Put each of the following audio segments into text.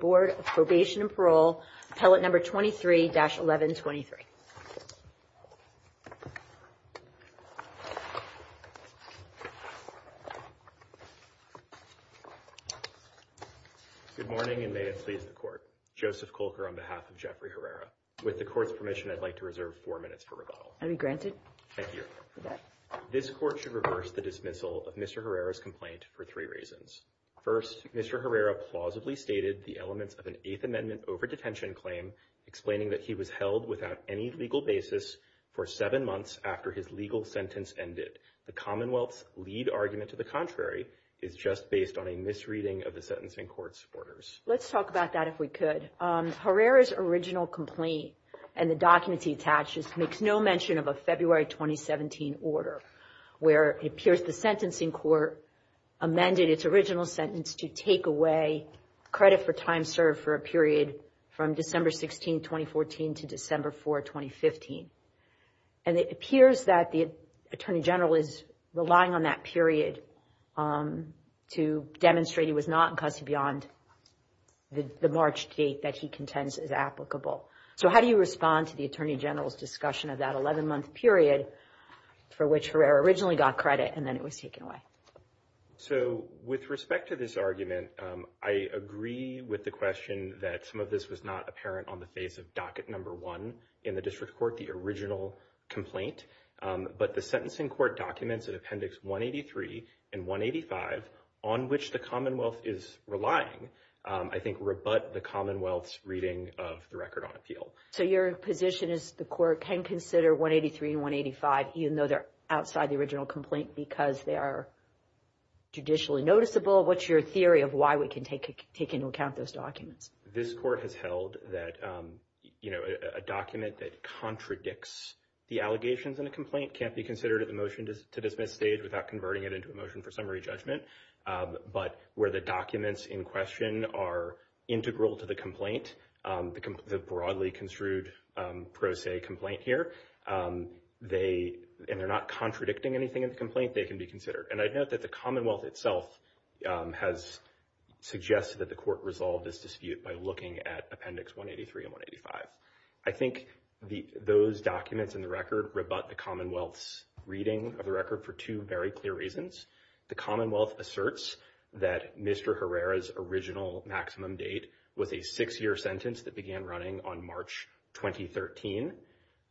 Board of Probation and Parole, Appellate No. 23-1123. Good morning, and may it please the Court. Joseph Kolker on behalf of Jeffrey Herrera. With the Court's permission, I'd like to reserve four minutes for rebuttal. I'll be granted. Thank you. This Court should reverse the dismissal of Mr. Herrera's complaint for three reasons. First, Mr. Herrera plausibly stated the elements of an Eighth Amendment over-detention claim, explaining that he was held without any legal basis for seven months after his legal sentence ended. The Commonwealth's lead argument to the contrary is just based on a misreading of the sentencing court's orders. Let's talk about that, if we could. Mr. Herrera's original complaint and the documents he attaches makes no mention of a February 2017 order, where it appears the sentencing court amended its original sentence to take away credit for time served for a period from December 16, 2014, to December 4, 2015. And it appears that the Attorney General is relying on that period to demonstrate he was not in custody beyond the March date that he contends is applicable. So how do you respond to the Attorney General's discussion of that 11-month period for which Herrera originally got credit and then it was taken away? So with respect to this argument, I agree with the question that some of this was not apparent on the face of docket number one in the district court, the original complaint. But the sentencing court documents in appendix 183 and 185, on which the Commonwealth is relying, I think rebut the Commonwealth's reading of the record on appeal. So your position is the court can consider 183 and 185 even though they're outside the original complaint because they are judicially noticeable? What's your theory of why we can take into account those documents? This court has held that, you know, a document that contradicts the allegations in a complaint can't be considered at the motion-to-dismiss stage without converting it into a motion for summary judgment. But where the documents in question are integral to the complaint, the broadly construed pro se complaint here, and they're not contradicting anything in the complaint, they can be considered. And I note that the Commonwealth itself has suggested that the court resolve this dispute by looking at appendix 183 and 185. I think those documents in the record rebut the Commonwealth's reading of the record for two very clear reasons. The Commonwealth asserts that Mr. Herrera's original maximum date was a six-year sentence that began running on March 2013,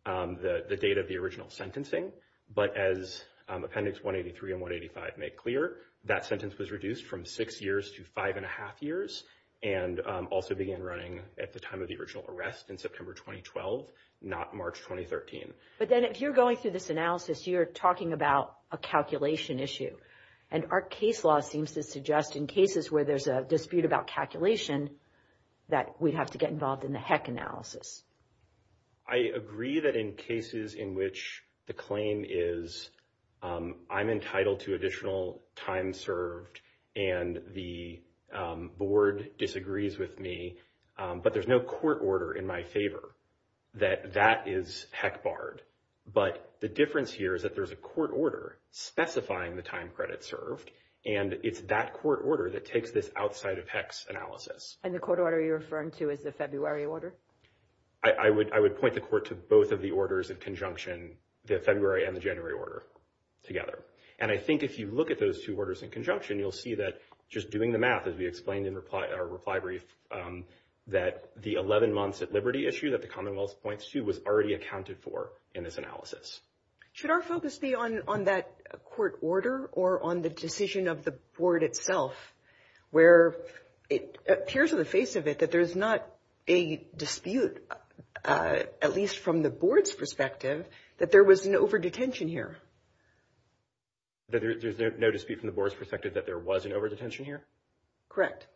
the date of the original sentencing. But as appendix 183 and 185 make clear, that sentence was reduced from six years to five and a half years and also began running at the time of the original arrest in September 2012, not March 2013. But then if you're going through this analysis, you're talking about a calculation issue, and our case law seems to suggest in cases where there's a dispute about calculation that we'd have to get involved in the heck analysis. I agree that in cases in which the claim is I'm entitled to additional time served and the board disagrees with me, but there's no court order in my favor that that is heck barred. But the difference here is that there's a court order specifying the time credit served, and it's that court order that takes this outside of heck's analysis. And the court order you're referring to is the February order? I would point the court to both of the orders in conjunction, the February and the January order together. And I think if you look at those two orders in conjunction, you'll see that just doing the math, as we explained in our reply brief, that the 11 months at liberty issue that the Commonwealth points to was already accounted for in this analysis. Should our focus be on that court order or on the decision of the board itself, where it appears on the face of it that there's not a dispute, at least from the board's perspective, that there was an overdetention here? That there's no dispute from the board's perspective that there was an overdetention here? Correct.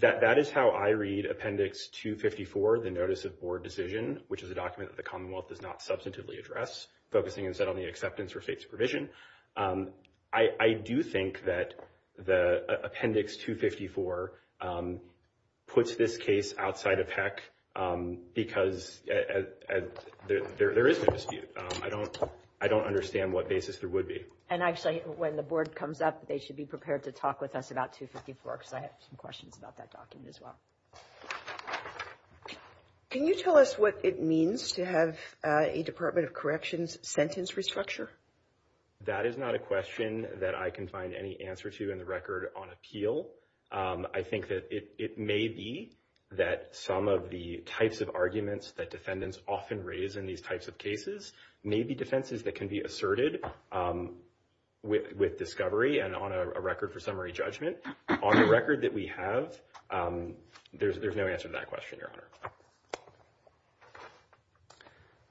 That is how I read Appendix 254, the Notice of Board Decision, which is a document that the Commonwealth does not substantively address, focusing instead on the acceptance for state supervision. I do think that Appendix 254 puts this case outside of heck because there is no dispute. I don't understand what basis there would be. And actually, when the board comes up, they should be prepared to talk with us about 254 because I have some questions about that document as well. Can you tell us what it means to have a Department of Corrections sentence restructure? That is not a question that I can find any answer to in the record on appeal. I think that it may be that some of the types of arguments that defendants often raise in these types of cases may be defenses that can be asserted with discovery and on a record for summary judgment. On the record that we have, there is no answer to that question, Your Honor.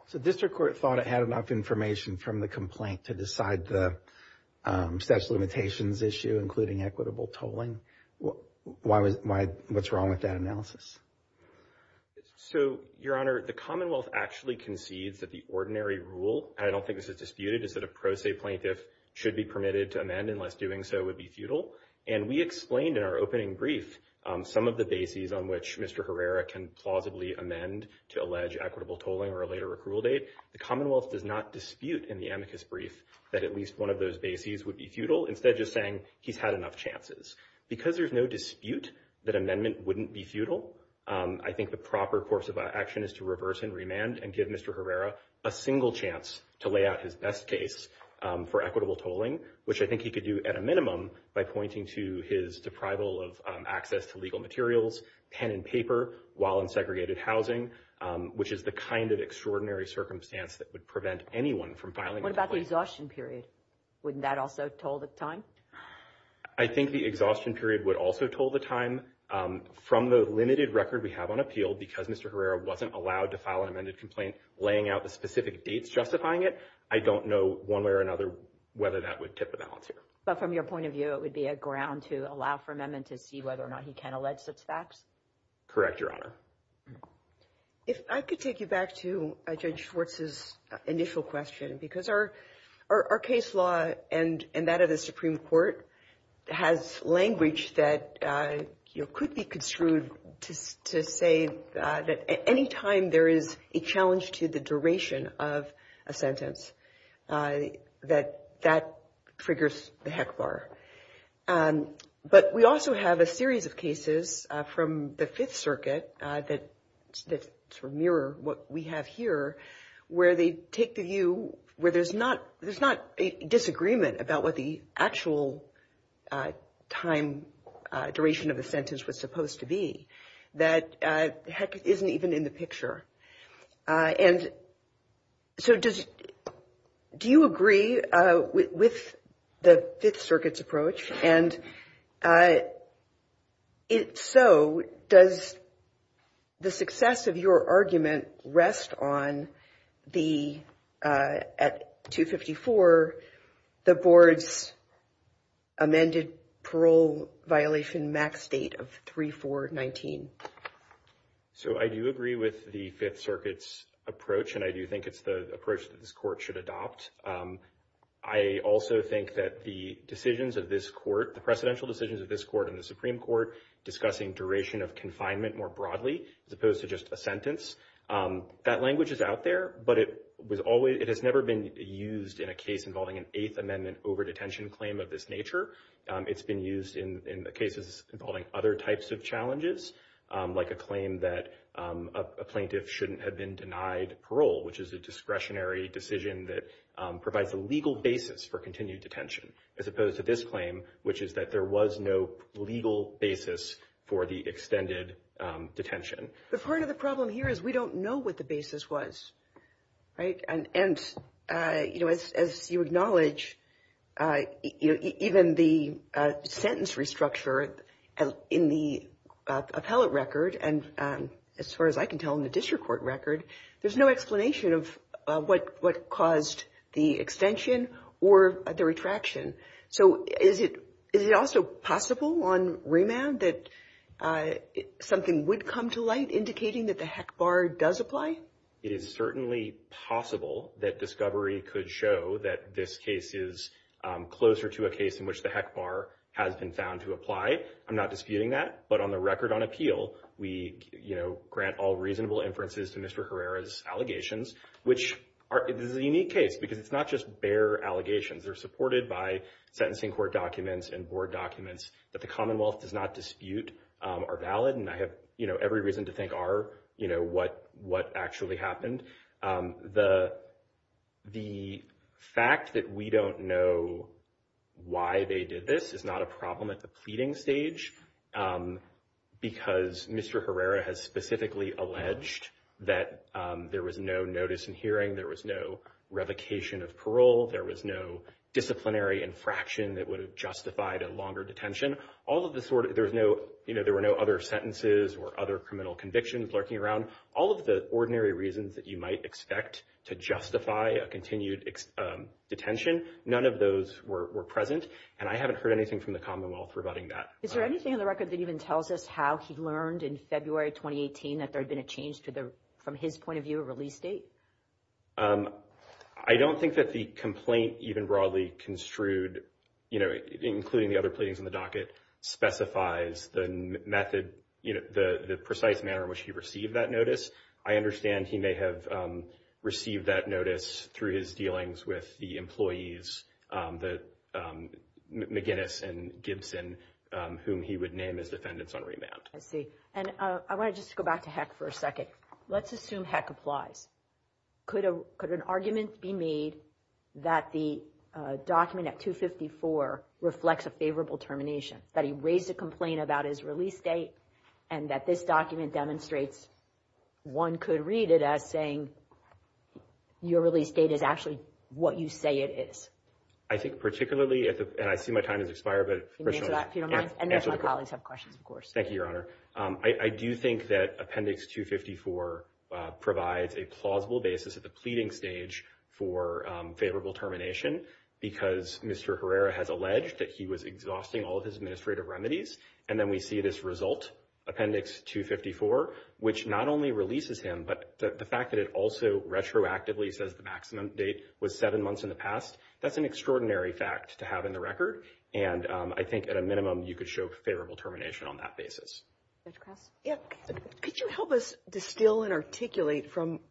So District Court thought it had enough information from the complaint to decide the statute of limitations issue, including equitable tolling. What is wrong with that analysis? So, Your Honor, the Commonwealth actually concedes that the ordinary rule, and I don't think this is disputed, is that a pro se plaintiff should be permitted to amend unless doing so would be futile. And we explained in our opening brief some of the bases on which Mr. Herrera can plausibly amend to allege equitable tolling or a later approval date. The Commonwealth does not dispute in the amicus brief that at least one of those bases would be futile, instead just saying he's had enough chances. Because there's no dispute that amendment wouldn't be futile, I think the proper course of action is to reverse and remand and give Mr. Herrera a single chance to lay out his best case for equitable tolling, which I think he could do at a minimum by pointing to his deprival of access to legal materials, pen and paper, while in segregated housing, which is the kind of extraordinary circumstance that would prevent anyone from filing a complaint. What about the exhaustion period? Wouldn't that also toll the time? I think the exhaustion period would also toll the time. From the limited record we have on appeal, because Mr. Herrera wasn't allowed to file an amended complaint, laying out the specific dates justifying it, I don't know one way or another whether that would tip the balance here. But from your point of view, it would be a ground to allow for amendment to see whether or not he can allege such facts? Correct, Your Honor. If I could take you back to Judge Schwartz's initial question, because our case law and that of the Supreme Court has language that could be construed to say that any time there is a challenge to the duration of a sentence, that that triggers the heck bar. But we also have a series of cases from the Fifth Circuit that sort of mirror what we have here, where they take the view where there's not a disagreement about what the actual time, duration of the sentence was supposed to be, that heck isn't even in the picture. And so do you agree with the Fifth Circuit's approach? And so does the success of your argument rest on the, at 254, the board's amended parole violation max date of 3-4-19? So I do agree with the Fifth Circuit's approach, and I do think it's the approach that this court should adopt. I also think that the decisions of this court, the precedential decisions of this court and the Supreme Court, discussing duration of confinement more broadly, as opposed to just a sentence, that language is out there, but it has never been used in a case involving an Eighth Amendment overdetention claim of this nature. It's been used in cases involving other types of challenges, like a claim that a plaintiff shouldn't have been denied parole, which is a discretionary decision that provides a legal basis for continued detention, as opposed to this claim, which is that there was no legal basis for the extended detention. But part of the problem here is we don't know what the basis was, right? And, you know, as you acknowledge, even the sentence restructure in the appellate record, and as far as I can tell in the district court record, there's no explanation of what caused the extension or the retraction. So is it also possible on remand that something would come to light indicating that the HEC bar does apply? It is certainly possible that discovery could show that this case is closer to a case in which the HEC bar has been found to apply. I'm not disputing that. But on the record on appeal, we, you know, grant all reasonable inferences to Mr. Herrera's allegations, which is a unique case because it's not just bare allegations. They're supported by sentencing court documents and board documents that the Commonwealth does not dispute are valid. And I have every reason to think are, you know, what actually happened. The fact that we don't know why they did this is not a problem at the pleading stage, because Mr. Herrera has specifically alleged that there was no notice in hearing. There was no revocation of parole. There was no disciplinary infraction that would have justified a longer detention. All of the sort of there's no, you know, there were no other sentences or other criminal convictions lurking around. All of the ordinary reasons that you might expect to justify a continued detention, none of those were present. And I haven't heard anything from the Commonwealth rebutting that. Is there anything on the record that even tells us how he learned in February 2018 that there had been a change to the from his point of view, a release date? I don't think that the complaint even broadly construed, you know, I understand he may have received that notice through his dealings with the employees, McGinnis and Gibson, whom he would name as defendants on remand. I see. And I want to just go back to Heck for a second. Let's assume Heck applies. Could an argument be made that the document at 254 reflects a favorable termination, that he raised a complaint about his release date and that this document demonstrates one could read it as saying your release date is actually what you say it is? I think particularly if I see my time has expired, but my colleagues have questions, of course. Thank you, Your Honor. I do think that Appendix 254 provides a plausible basis at the pleading stage for favorable termination, because Mr. Herrera has alleged that he was exhausting all of his administrative remedies. And then we see this result, Appendix 254, which not only releases him, but the fact that it also retroactively says the maximum date was seven months in the past. That's an extraordinary fact to have in the record. And I think at a minimum, you could show favorable termination on that basis. Could you help us distill and articulate from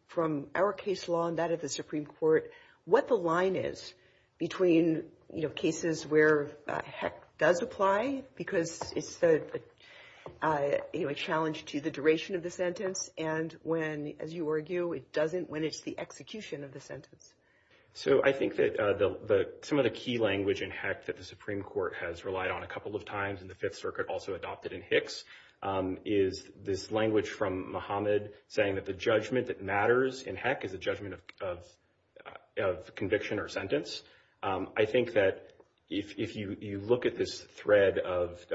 our case law and that of the Supreme Court what the line is between, you know, cases where Heck does apply because it's a challenge to the duration of the sentence and when, as you argue, it doesn't, when it's the execution of the sentence. So I think that some of the key language in Heck that the Supreme Court has relied on a couple of times in the Fifth Circuit, also adopted in Hicks, is this language from Muhammad saying that the judgment that matters in Heck is a judgment of conviction or sentence. I think that if you look at this thread of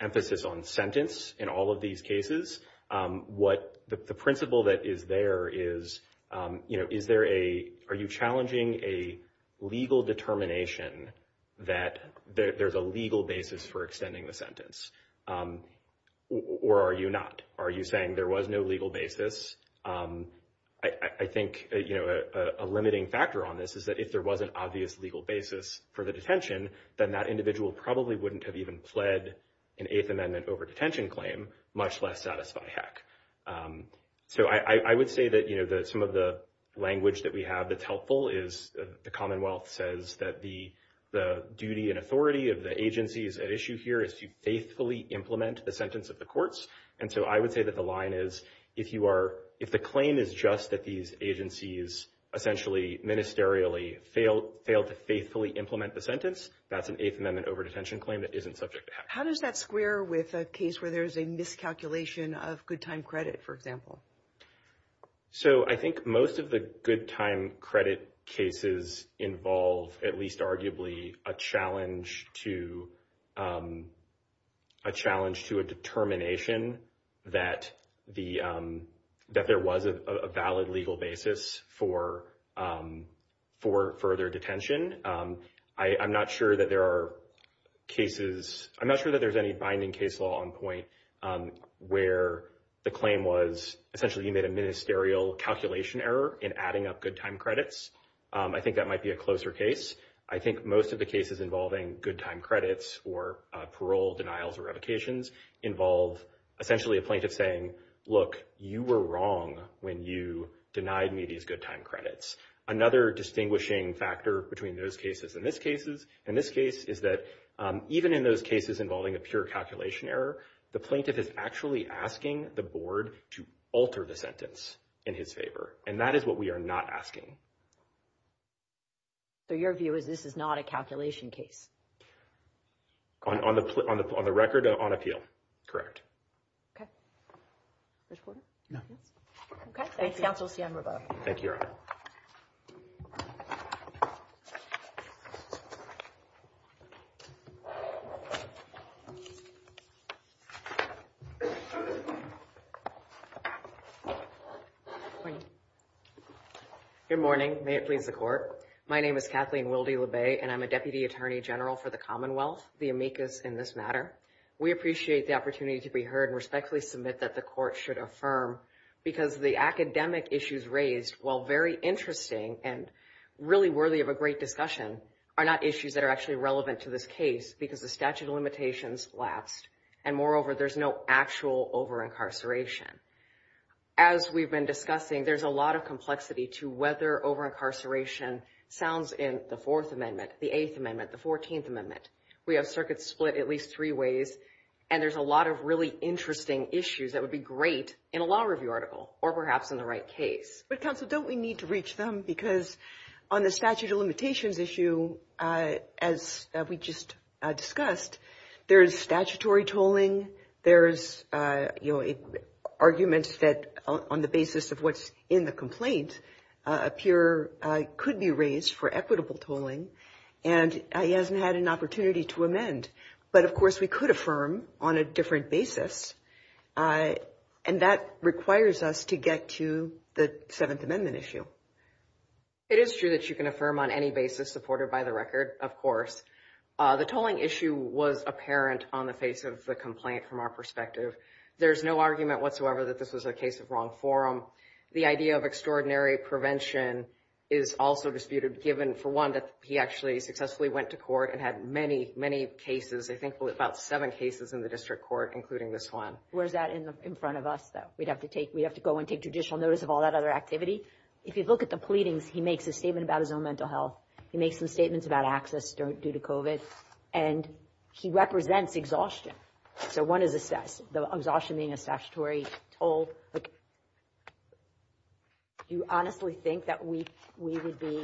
emphasis on sentence in all of these cases, what the principle that is there is, you know, are you challenging a legal determination that there's a legal basis for extending the sentence, or are you not? Are you saying there was no legal basis? I think, you know, a limiting factor on this is that if there was an obvious legal basis for the detention, then that individual probably wouldn't have even pled an Eighth Amendment over-detention claim, much less satisfy Heck. So I would say that, you know, some of the language that we have that's helpful is the Commonwealth says that the duty and authority of the agencies at issue here is to faithfully implement the sentence of the courts. And so I would say that the line is if you are, if the claim is just that these agencies essentially ministerially fail to faithfully implement the sentence, that's an Eighth Amendment over-detention claim that isn't subject to Heck. How does that square with a case where there's a miscalculation of good time credit, for example? So I think most of the good time credit cases involve at least arguably a challenge to, a challenge to a determination that the, that there was a valid legal basis for, for further detention. I'm not sure that there are cases. I'm not sure that there's any binding case law on point where the claim was essentially you made a ministerial calculation error in adding up good time credits. I think that might be a closer case. I think most of the cases involving good time credits or parole denials or revocations involve essentially a plaintiff saying, look, you were wrong when you denied me these good time credits. Another distinguishing factor between those cases and this cases, in this case, is that even in those cases involving a pure calculation error, the plaintiff is actually asking the board to alter the sentence in his favor. And that is what we are not asking. So your view is this is not a calculation case? On the record, on appeal. Correct. No. Okay. Thank you. Thank you. Good morning. May it please the court. My name is Kathleen Wildy Labay and I'm a deputy attorney general for the Commonwealth, the amicus in this matter. We appreciate the opportunity to be heard and respectfully submit that the court should affirm because the academic issues raised, while very interesting and really worthy of a great discussion, are not issues that are actually relevant to this case because the statute of limitations lapsed. And moreover, there's no actual over-incarceration. As we've been discussing, there's a lot of complexity to whether over-incarceration sounds in the Fourth Amendment, the Eighth Amendment, the Fourteenth Amendment. We have circuits split at least three ways. And there's a lot of really interesting issues that would be great in a law review article or perhaps in the right case. But counsel, don't we need to reach them? Because on the statute of limitations issue, as we just discussed, there is statutory tolling. There's arguments that on the basis of what's in the complaint appear could be raised for equitable tolling. And he hasn't had an opportunity to amend. But, of course, we could affirm on a different basis. And that requires us to get to the Seventh Amendment issue. It is true that you can affirm on any basis supported by the record, of course. The tolling issue was apparent on the face of the complaint from our perspective. There's no argument whatsoever that this was a case of wrong forum. The idea of extraordinary prevention is also disputed, given, for one, that he actually successfully went to court and had many, many cases. I think about seven cases in the district court, including this one. Where's that in front of us, though? We'd have to go and take judicial notice of all that other activity. If you look at the pleadings, he makes a statement about his own mental health. He makes some statements about access due to COVID. And he represents exhaustion. So, one is exhaustion being a statutory toll. Do you honestly think that we would be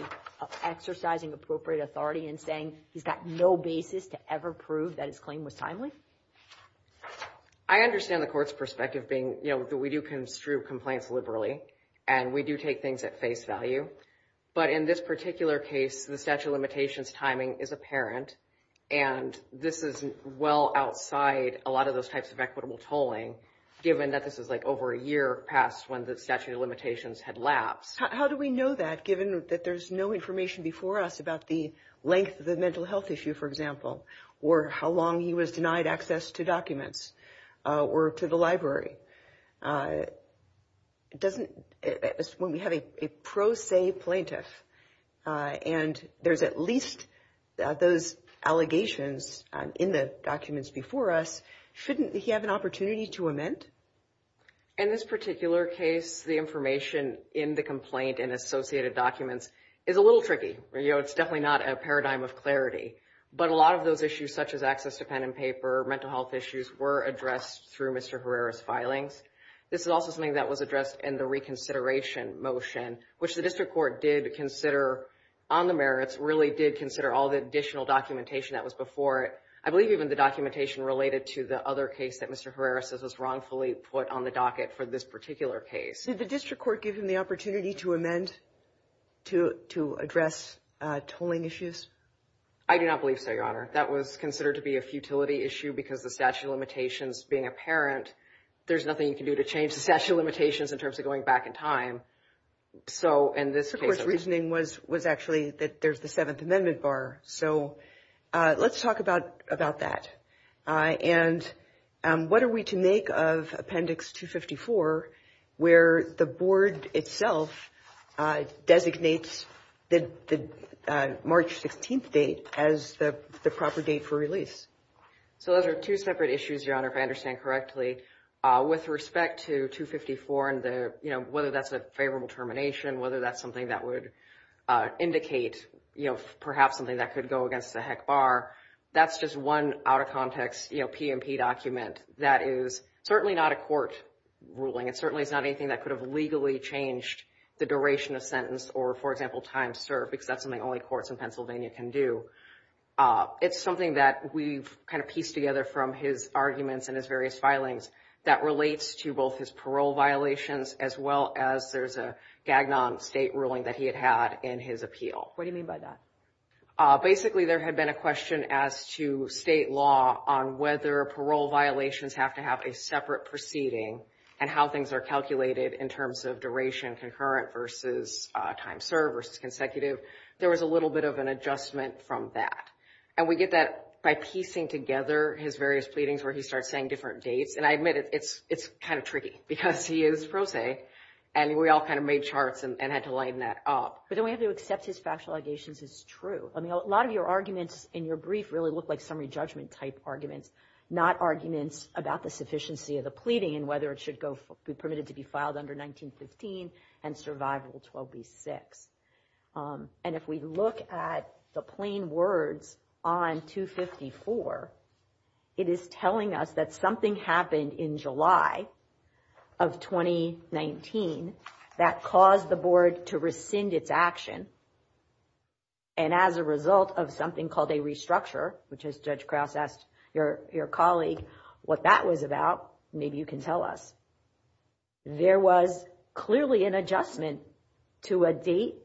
exercising appropriate authority in saying he's got no basis to ever prove that his claim was timely? I understand the court's perspective being that we do construe complaints liberally. And we do take things at face value. But in this particular case, the statute of limitations timing is apparent. And this is well outside a lot of those types of equitable tolling, given that this is, like, over a year past when the statute of limitations had lapsed. How do we know that, given that there's no information before us about the length of the mental health issue, for example? Or how long he was denied access to documents or to the library? When we have a pro se plaintiff, and there's at least those allegations in the documents before us, shouldn't he have an opportunity to amend? In this particular case, the information in the complaint and associated documents is a little tricky. You know, it's definitely not a paradigm of clarity. But a lot of those issues, such as access to pen and paper, mental health issues, were addressed through Mr. Herrera's filings. This is also something that was addressed in the reconsideration motion, which the district court did consider on the merits, really did consider all the additional documentation that was before it. I believe even the documentation related to the other case that Mr. Herrera says was wrongfully put on the docket for this particular case. Did the district court give him the opportunity to amend to address tolling issues? I do not believe so, Your Honor. That was considered to be a futility issue because the statute of limitations being apparent, there's nothing you can do to change the statute of limitations in terms of going back in time. So in this case, The court's reasoning was actually that there's the Seventh Amendment bar. So let's talk about that. And what are we to make of Appendix 254, where the board itself designates the March 16th date as the proper date for release? So those are two separate issues, Your Honor, if I understand correctly. With respect to 254 and the, you know, whether that's a favorable termination, whether that's something that would indicate, you know, perhaps something that could go against the HEC bar. That's just one out of context, you know, P&P document. That is certainly not a court ruling. It certainly is not anything that could have legally changed the duration of sentence or, for example, time served, because that's something only courts in Pennsylvania can do. It's something that we've kind of pieced together from his arguments and his various filings that relates to both his parole violations, as well as there's a Gagnon state ruling that he had had in his appeal. What do you mean by that? Basically, there had been a question as to state law on whether parole violations have to have a separate proceeding and how things are calculated in terms of duration, concurrent versus time served versus consecutive. There was a little bit of an adjustment from that. And we get that by piecing together his various pleadings where he starts saying different dates. And I admit it's kind of tricky because he is pro se, and we all kind of made charts and had to lighten that up. But the way to accept his factual allegations is true. I mean, a lot of your arguments in your brief really look like summary judgment type arguments, not arguments about the sufficiency of the pleading and whether it should be permitted to be filed under 1915 and survival 12b-6. And if we look at the plain words on 254, it is telling us that something happened in July of 2019 that caused the board to rescind its action and as a result of something called a restructure, which as Judge Krause asked your colleague what that was about, maybe you can tell us. There was clearly an adjustment to a date,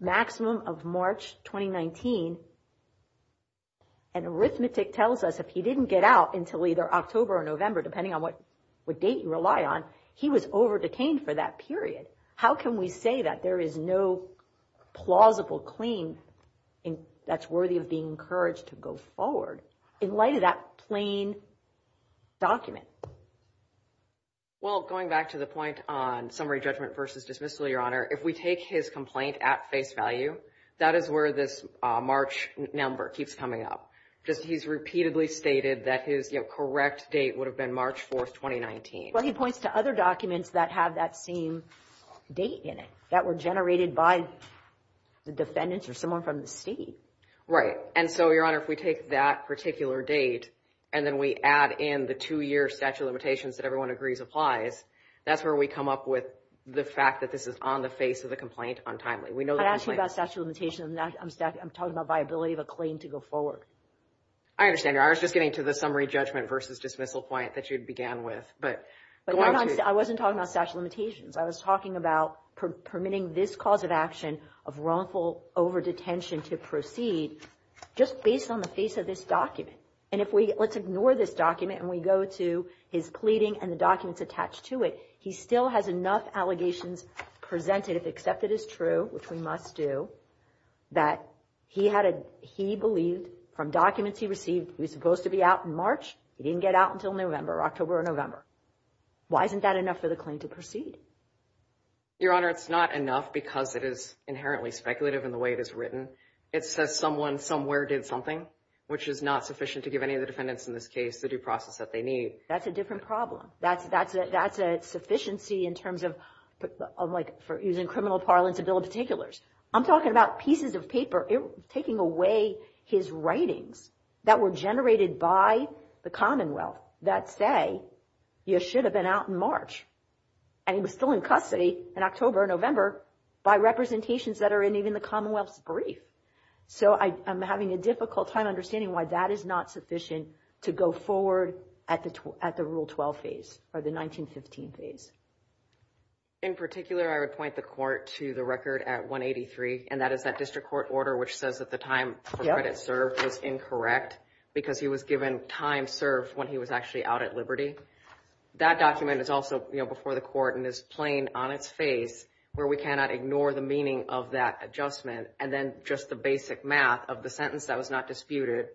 maximum of March 2019. And arithmetic tells us if he didn't get out until either October or November, depending on what date you rely on, he was over detained for that period. How can we say that there is no plausible claim that's worthy of being encouraged to go forward in light of that plain document? Well, going back to the point on summary judgment versus dismissal, Your Honor, if we take his complaint at face value, that is where this March number keeps coming up because he's repeatedly stated that his correct date would have been March 4th, 2019. Well, he points to other documents that have that same date in it that were generated by the defendants or someone from the state. Right. And so, Your Honor, if we take that particular date and then we add in the two-year statute of limitations that everyone agrees applies, that's where we come up with the fact that this is on the face of the complaint untimely. I'm not asking about statute of limitations. I'm talking about viability of a claim to go forward. I understand. I was just getting to the summary judgment versus dismissal point that you began with. But I wasn't talking about statute of limitations. I was talking about permitting this cause of action of wrongful over-detention to proceed just based on the face of this document. And if we let's ignore this document and we go to his pleading and the documents attached to it, he still has enough allegations presented, if accepted as true, which we must do, that he believed from documents he received, he was supposed to be out in March. He didn't get out until November or October or November. Why isn't that enough for the claim to proceed? Your Honor, it's not enough because it is inherently speculative in the way it is written. It says someone somewhere did something, which is not sufficient to give any of the defendants in this case the due process that they need. That's a different problem. That's a sufficiency in terms of using criminal parlance to build particulars. I'm talking about pieces of paper taking away his writings that were generated by the Commonwealth that say you should have been out in March. And he was still in custody in October or November by representations that are in even the Commonwealth's brief. So I'm having a difficult time understanding why that is not sufficient to go forward at the Rule 12 phase or the 1915 phase. In particular, I would point the court to the record at 183, and that is that district court order, which says that the time for credit served was incorrect because he was given time served when he was actually out at liberty. That document is also before the court and is plain on its face where we cannot ignore the meaning of that adjustment and then just the basic math of the sentence that was not disputed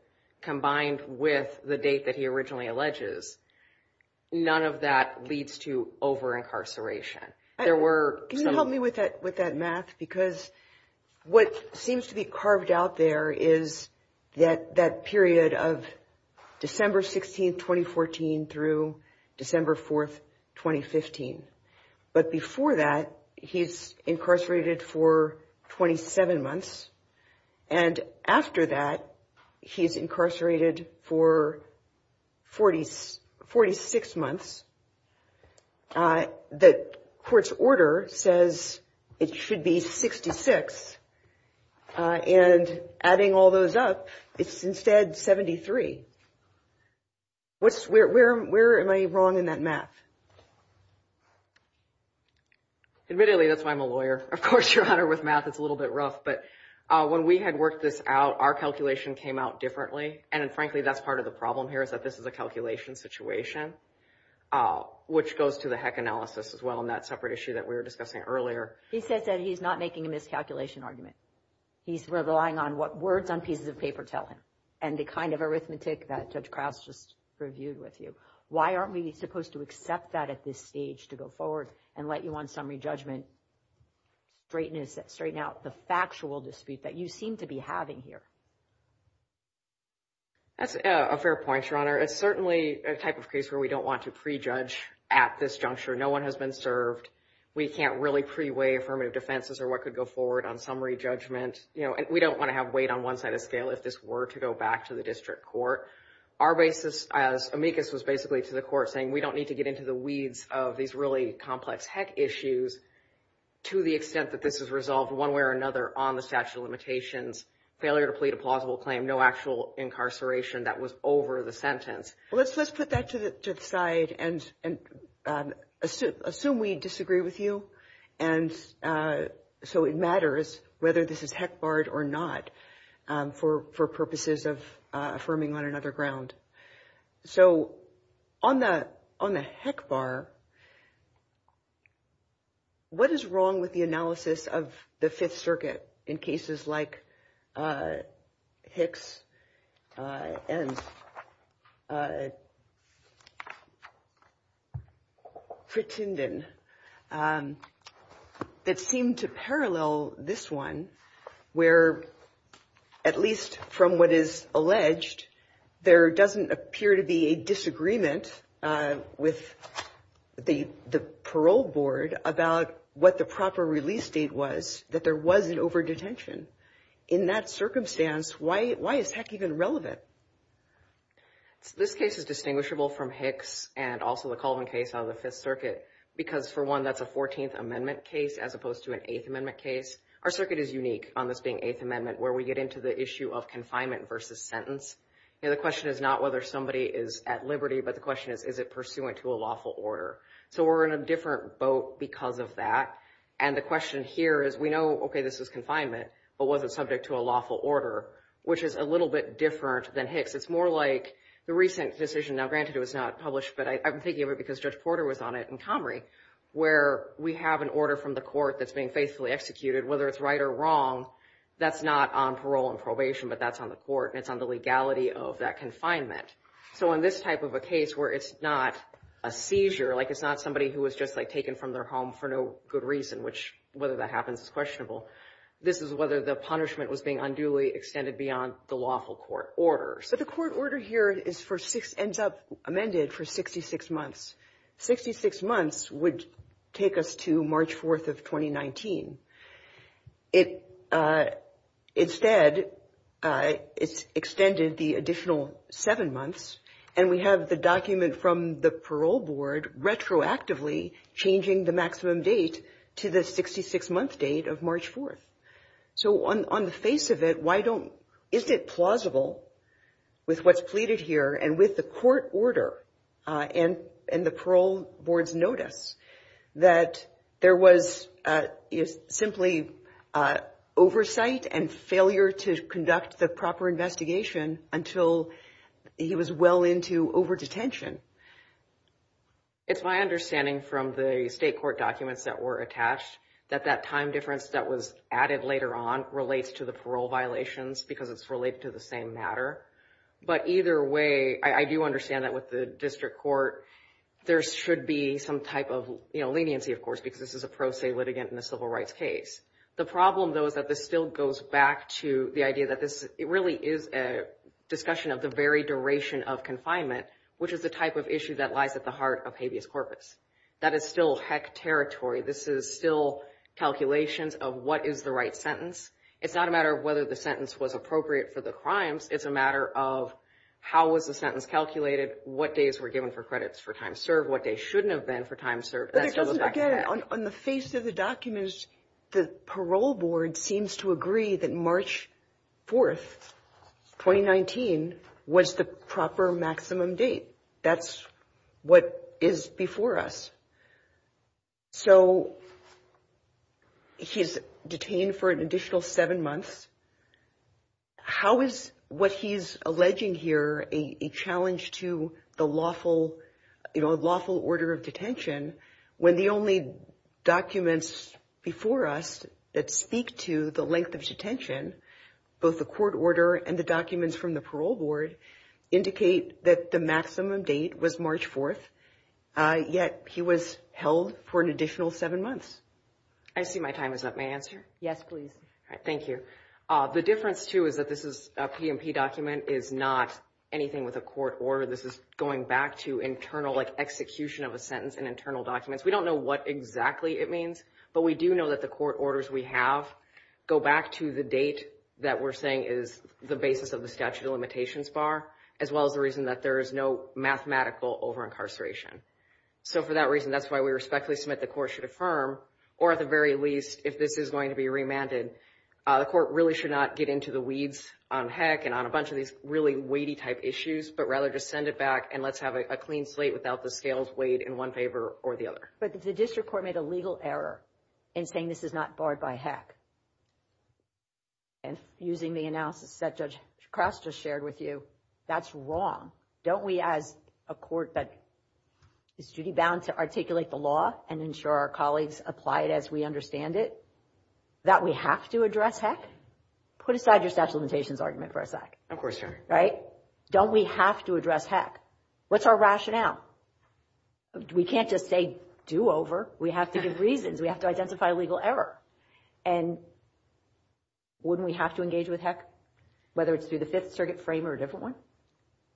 combined with the date that he originally alleges. None of that leads to over-incarceration. Can you help me with that math? Because what seems to be carved out there is that period of December 16, 2014, through December 4, 2015. But before that, he's incarcerated for 27 months. And after that, he's incarcerated for 46 months. The court's order says it should be 66. And adding all those up, it's instead 73. Where am I wrong in that math? Admittedly, that's why I'm a lawyer. Of course, Your Honor, with math, it's a little bit rough. But when we had worked this out, our calculation came out differently. And frankly, that's part of the problem here is that this is a calculation situation, which goes to the heck analysis as well in that separate issue that we were discussing earlier. He says that he's not making a miscalculation argument. He's relying on what words on pieces of paper tell him and the kind of arithmetic that Judge Krause just reviewed with you. Why aren't we supposed to accept that at this stage to go forward and let you on summary judgment straighten out the factual dispute that you seem to be having here? That's a fair point, Your Honor. It's certainly a type of case where we don't want to prejudge at this juncture. No one has been served. We can't really pre-weigh affirmative defenses or what could go forward on summary judgment. We don't want to have weight on one side of the scale if this were to go back to the district court. Our basis as amicus was basically to the court saying we don't need to get into the weeds of these really complex heck issues to the extent that this is resolved one way or another on the statute of limitations, failure to plead a plausible claim, no actual incarceration that was over the sentence. Let's put that to the side and assume we disagree with you. And so it matters whether this is heck barred or not for purposes of affirming on another ground. So on the on the heck bar. What is wrong with the analysis of the Fifth Circuit in cases like Hicks and pretended that seemed to parallel this one where, at least from what is alleged, there doesn't appear to be a disagreement with the parole board about what the proper release date was, that there was an overdetention in that circumstance. Why? Why is heck even relevant? This case is distinguishable from Hicks and also the Colvin case of the Fifth Circuit, because for one, that's a 14th Amendment case as opposed to an Eighth Amendment case. Our circuit is unique on this being Eighth Amendment, where we get into the issue of confinement versus sentence. And the question is not whether somebody is at liberty, but the question is, is it pursuant to a lawful order? So we're in a different boat because of that. And the question here is, we know, OK, this is confinement. But was it subject to a lawful order, which is a little bit different than Hicks? It's more like the recent decision. Now, granted, it was not published, but I'm thinking of it because Judge Porter was on it in Comrie, where we have an order from the court that's being faithfully executed. Whether it's right or wrong, that's not on parole and probation, but that's on the court, and it's on the legality of that confinement. So in this type of a case where it's not a seizure, like it's not somebody who was just, like, taken from their home for no good reason, which whether that happens is questionable, this is whether the punishment was being unduly extended beyond the lawful court order. But the court order here ends up amended for 66 months. Sixty-six months would take us to March 4th of 2019. Instead, it's extended the additional seven months, and we have the document from the parole board retroactively changing the maximum date to the 66-month date of March 4th. So on the face of it, why don't – isn't it plausible with what's pleaded here and with the court order and the parole board's notice that there was simply oversight and failure to conduct the proper investigation until he was well into over-detention? It's my understanding from the state court documents that were attached that that time difference that was added later on relates to the parole violations because it's related to the same matter. But either way, I do understand that with the district court, there should be some type of leniency, of course, because this is a pro se litigant in a civil rights case. The problem, though, is that this still goes back to the idea that this really is a discussion of the very duration of confinement, which is the type of issue that lies at the heart of habeas corpus. That is still heck territory. This is still calculations of what is the right sentence. It's not a matter of whether the sentence was appropriate for the crimes. It's a matter of how was the sentence calculated, what days were given for credits for time served, what days shouldn't have been for time served. But it doesn't – again, on the face of the documents, the parole board seems to agree that March 4th, 2019, was the proper maximum date. That's what is before us. So he's detained for an additional seven months. How is what he's alleging here a challenge to the lawful, you know, lawful order of detention when the only documents before us that speak to the length of detention, both the court order and the documents from the parole board, indicate that the maximum date was March 4th, yet he was held for an additional seven months? I see my time is up. May I answer? Yes, please. Thank you. The difference, too, is that this is a P&P document. It is not anything with a court order. This is going back to internal, like execution of a sentence in internal documents. We don't know what exactly it means, but we do know that the court orders we have go back to the date that we're saying is the basis of the statute of limitations bar, as well as the reason that there is no mathematical over-incarceration. So for that reason, that's why we respectfully submit the court should affirm, or at the very least, if this is going to be remanded, the court really should not get into the weeds on HEC and on a bunch of these really weighty type issues, but rather just send it back and let's have a clean slate without the scales weighed in one favor or the other. But the district court made a legal error in saying this is not barred by HEC. And using the analysis that Judge Krause just shared with you, that's wrong. Don't we, as a court that is duty-bound to articulate the law and ensure our colleagues apply it as we understand it, that we have to address HEC? Put aside your statute of limitations argument for a sec. Of course, Your Honor. Right? Don't we have to address HEC? What's our rationale? We can't just say do over. We have to give reasons. We have to identify a legal error. And wouldn't we have to engage with HEC, whether it's through the Fifth Circuit frame or a different one?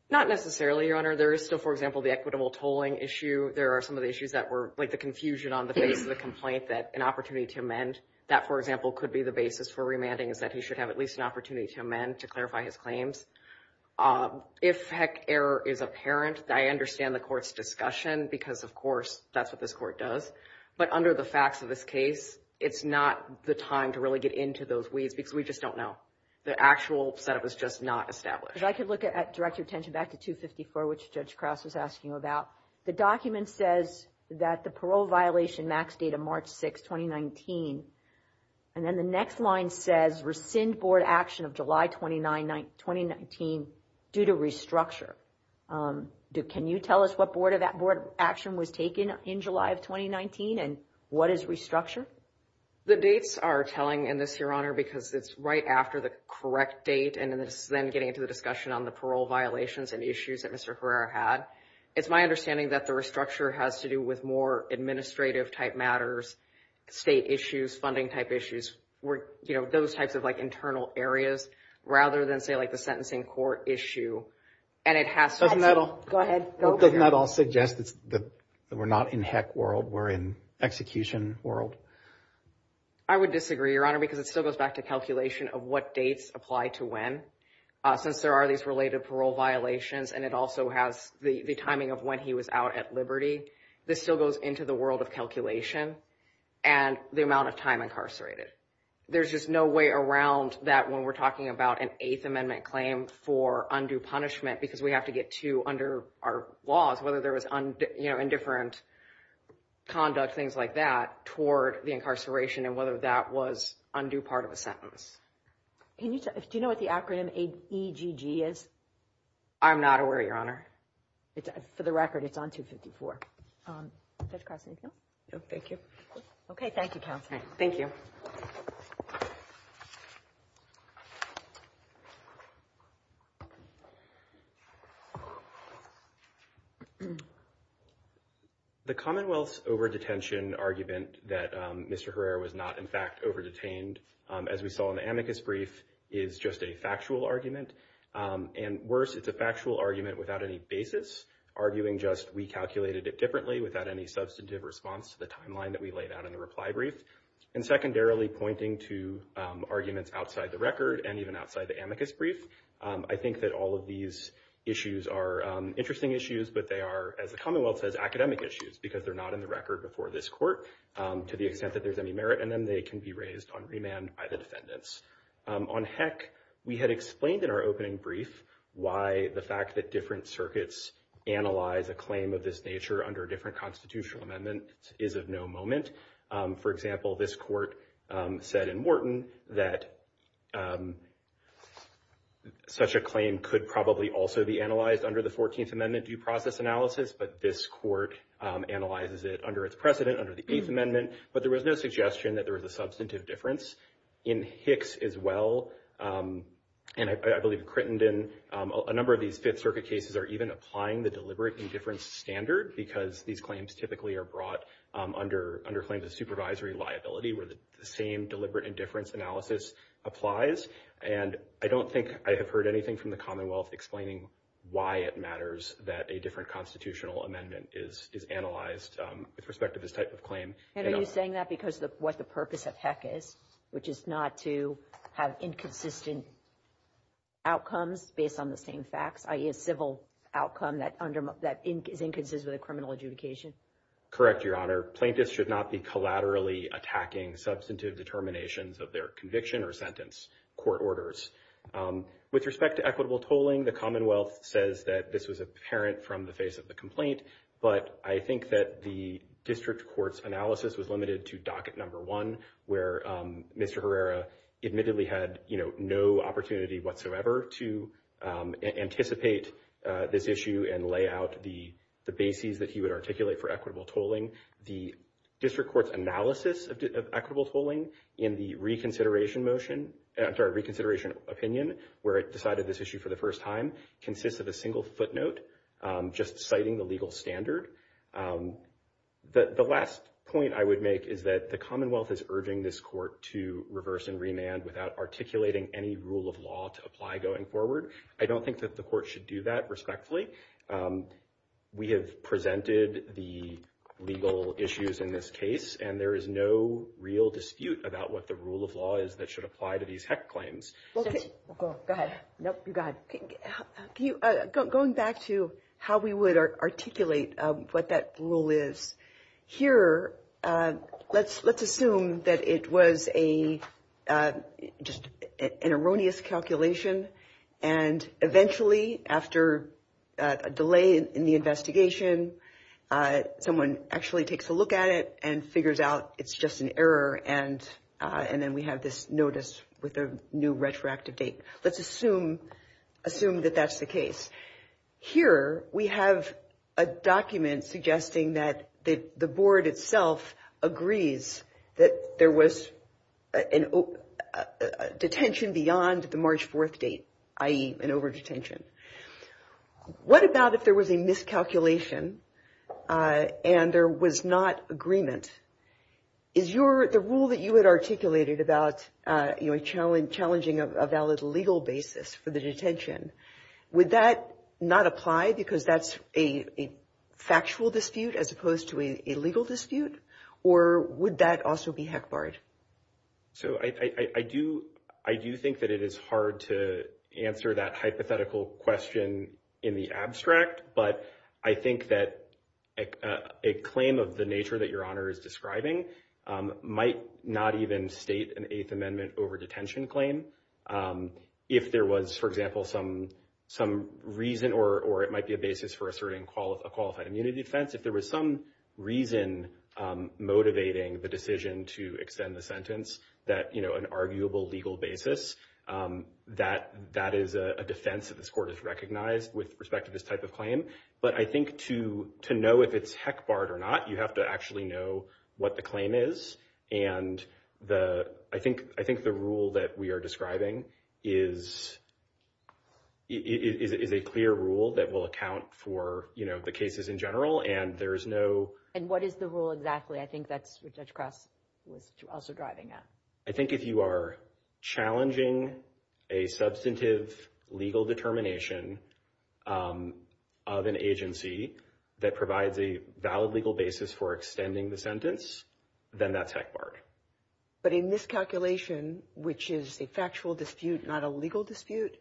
Not necessarily, Your Honor. There is still, for example, the equitable tolling issue. There are some of the issues that were like the confusion on the face of the complaint that an opportunity to amend, that, for example, could be the basis for remanding, is that he should have at least an opportunity to amend to clarify his claims. If HEC error is apparent, I understand the court's discussion because, of course, that's what this court does. But under the facts of this case, it's not the time to really get into those weeds because we just don't know. The actual setup is just not established. If I could direct your attention back to 254, which Judge Krause was asking about. The document says that the parole violation max date of March 6, 2019. And then the next line says rescind board action of July 29, 2019 due to restructure. Can you tell us what board action was taken in July of 2019 and what is restructure? The dates are telling in this, Your Honor, because it's right after the correct date and then getting into the discussion on the parole violations and issues that Mr. Herrera had. It's my understanding that the restructure has to do with more administrative type matters, state issues, funding type issues, those types of like internal areas rather than say like the sentencing court issue. Doesn't that all suggest that we're not in heck world, we're in execution world? I would disagree, Your Honor, because it still goes back to calculation of what dates apply to when. Since there are these related parole violations and it also has the timing of when he was out at liberty. This still goes into the world of calculation and the amount of time incarcerated. There's just no way around that when we're talking about an Eighth Amendment claim for undue punishment because we have to get to under our laws, whether there was indifferent conduct, things like that, toward the incarceration and whether that was undue part of a sentence. Do you know what the acronym EGG is? I'm not aware, Your Honor. For the record, it's on 254. Judge Cross, anything else? No, thank you. Okay, thank you, Counselor. Okay, thank you. The Commonwealth's over-detention argument that Mr. Herrera was not in fact over-detained, as we saw in the amicus brief, is just a factual argument. And worse, it's a factual argument without any basis, arguing just we calculated it differently without any substantive response to the timeline that we laid out in the reply brief, and secondarily pointing to arguments outside the record and even outside the amicus brief. I think that all of these issues are interesting issues, but they are, as the Commonwealth says, academic issues because they're not in the record before this court to the extent that there's any merit in them. They can be raised on remand by the defendants. On heck, we had explained in our opening brief why the fact that different circuits analyze a claim of this nature under a different constitutional amendment is of no moment. For example, this court said in Wharton that such a claim could probably also be analyzed under the 14th Amendment due process analysis, but this court analyzes it under its precedent, under the Eighth Amendment. But there was no suggestion that there was a substantive difference. In Hicks as well, and I believe Crittenden, a number of these Fifth Circuit cases are even applying the because these claims typically are brought under claims of supervisory liability where the same deliberate indifference analysis applies. And I don't think I have heard anything from the Commonwealth explaining why it matters that a different constitutional amendment is analyzed with respect to this type of claim. And are you saying that because of what the purpose of heck is, which is not to have inconsistent outcomes based on the same facts, i.e. a civil outcome that is inconsistent with a criminal adjudication? Correct, Your Honor. Plaintiffs should not be collaterally attacking substantive determinations of their conviction or sentence court orders. With respect to equitable tolling, the Commonwealth says that this was apparent from the face of the complaint, but I think that the district court's analysis was limited to docket number one, where Mr. Herrera admittedly had no opportunity whatsoever to anticipate this issue and lay out the bases that he would articulate for equitable tolling. The district court's analysis of equitable tolling in the reconsideration opinion, where it decided this issue for the first time, consists of a single footnote just citing the legal standard. The last point I would make is that the Commonwealth is urging this court to reverse and remand without articulating any rule of law to apply going forward. I don't think that the court should do that respectfully. We have presented the legal issues in this case, and there is no real dispute about what the rule of law is that should apply to these heck claims. Go ahead. Going back to how we would articulate what that rule is, here, let's assume that it was just an erroneous calculation, and eventually, after a delay in the investigation, someone actually takes a look at it and figures out it's just an error, and then we have this notice with a new retroactive date. Let's assume that that's the case. Here, we have a document suggesting that the board itself agrees that there was a detention beyond the March 4th date, i.e. an over-detention. What about if there was a miscalculation and there was not agreement? Is the rule that you had articulated about challenging a valid legal basis for the detention, would that not apply because that's a factual dispute as opposed to a legal dispute, or would that also be heck barred? I do think that it is hard to answer that hypothetical question in the abstract, but I think that a claim of the nature that Your Honor is describing might not even state an Eighth Amendment over-detention claim. If there was, for example, some reason, or it might be a basis for asserting a qualified immunity defense, if there was some reason motivating the decision to extend the sentence, an arguable legal basis, that is a defense that this Court has recognized with respect to this type of claim. But I think to know if it's heck barred or not, you have to actually know what the claim is, and I think the rule that we are describing is a clear rule that will account for the cases in general, and there is no— And what is the rule exactly? I think that's what Judge Cross was also driving at. I think if you are challenging a substantive legal determination of an agency that provides a valid legal basis for extending the sentence, then that's heck barred. But in this calculation, which is a factual dispute, not a legal dispute,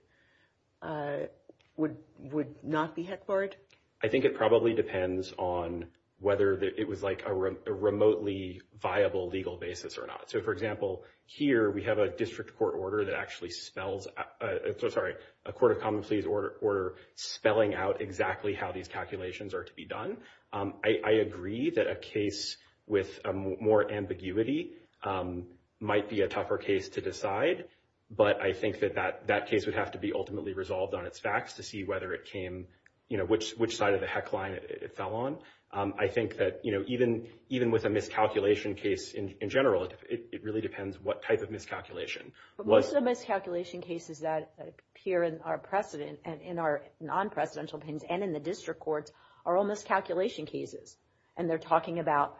would not be heck barred? I think it probably depends on whether it was like a remotely viable legal basis or not. So, for example, here we have a District Court order that actually spells— Sorry, a Court of Common Pleas order spelling out exactly how these calculations are to be done. I agree that a case with more ambiguity might be a tougher case to decide, but I think that that case would have to be ultimately resolved on its facts to see whether it came— which side of the heck line it fell on. I think that even with a miscalculation case in general, it really depends what type of miscalculation. But most of the miscalculation cases that appear in our non-presidential opinions and in the District Courts are all miscalculation cases, and they're talking about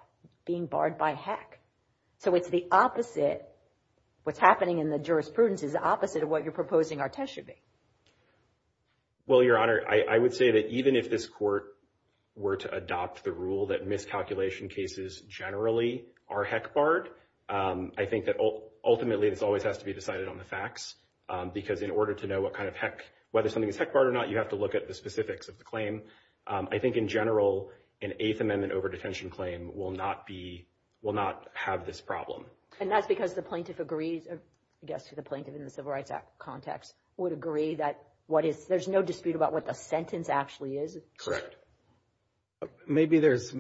being barred by heck. So it's the opposite. What's happening in the jurisprudence is the opposite of what you're proposing our test should be. Well, Your Honor, I would say that even if this Court were to adopt the rule that miscalculation cases generally are heck barred, I think that ultimately this always has to be decided on the facts because in order to know what kind of heck— whether something is heck barred or not, you have to look at the specifics of the claim. I think in general, an Eighth Amendment overdetention claim will not be—will not have this problem. And that's because the plaintiff agrees—I guess the plaintiff in the Civil Rights Act context would agree that what is— there's no dispute about what the sentence actually is? Correct. Maybe there's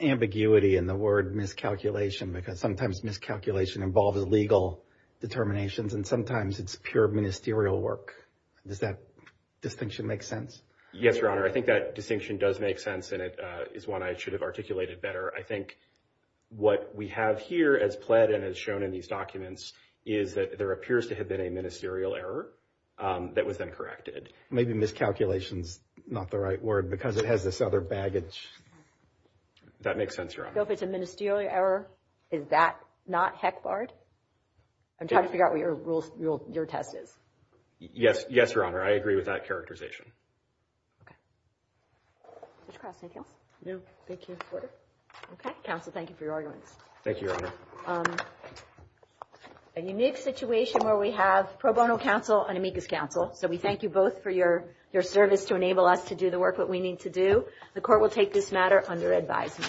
ambiguity in the word miscalculation because sometimes miscalculation involves legal determinations, and sometimes it's pure ministerial work. Does that distinction make sense? Yes, Your Honor. I think that distinction does make sense, and it is one I should have articulated better. I think what we have here as pled and as shown in these documents is that there appears to have been a ministerial error that was then corrected. Maybe miscalculation's not the right word because it has this other baggage. That makes sense, Your Honor. So if it's a ministerial error, is that not heck barred? I'm trying to figure out what your test is. Yes, Your Honor, I agree with that characterization. Okay. Judge Cross, anything else? No, thank you. Okay. Counsel, thank you for your arguments. Thank you, Your Honor. A unique situation where we have pro bono counsel and amicus counsel. So we thank you both for your service to enable us to do the work that we need to do. The Court will take this matter under advisement.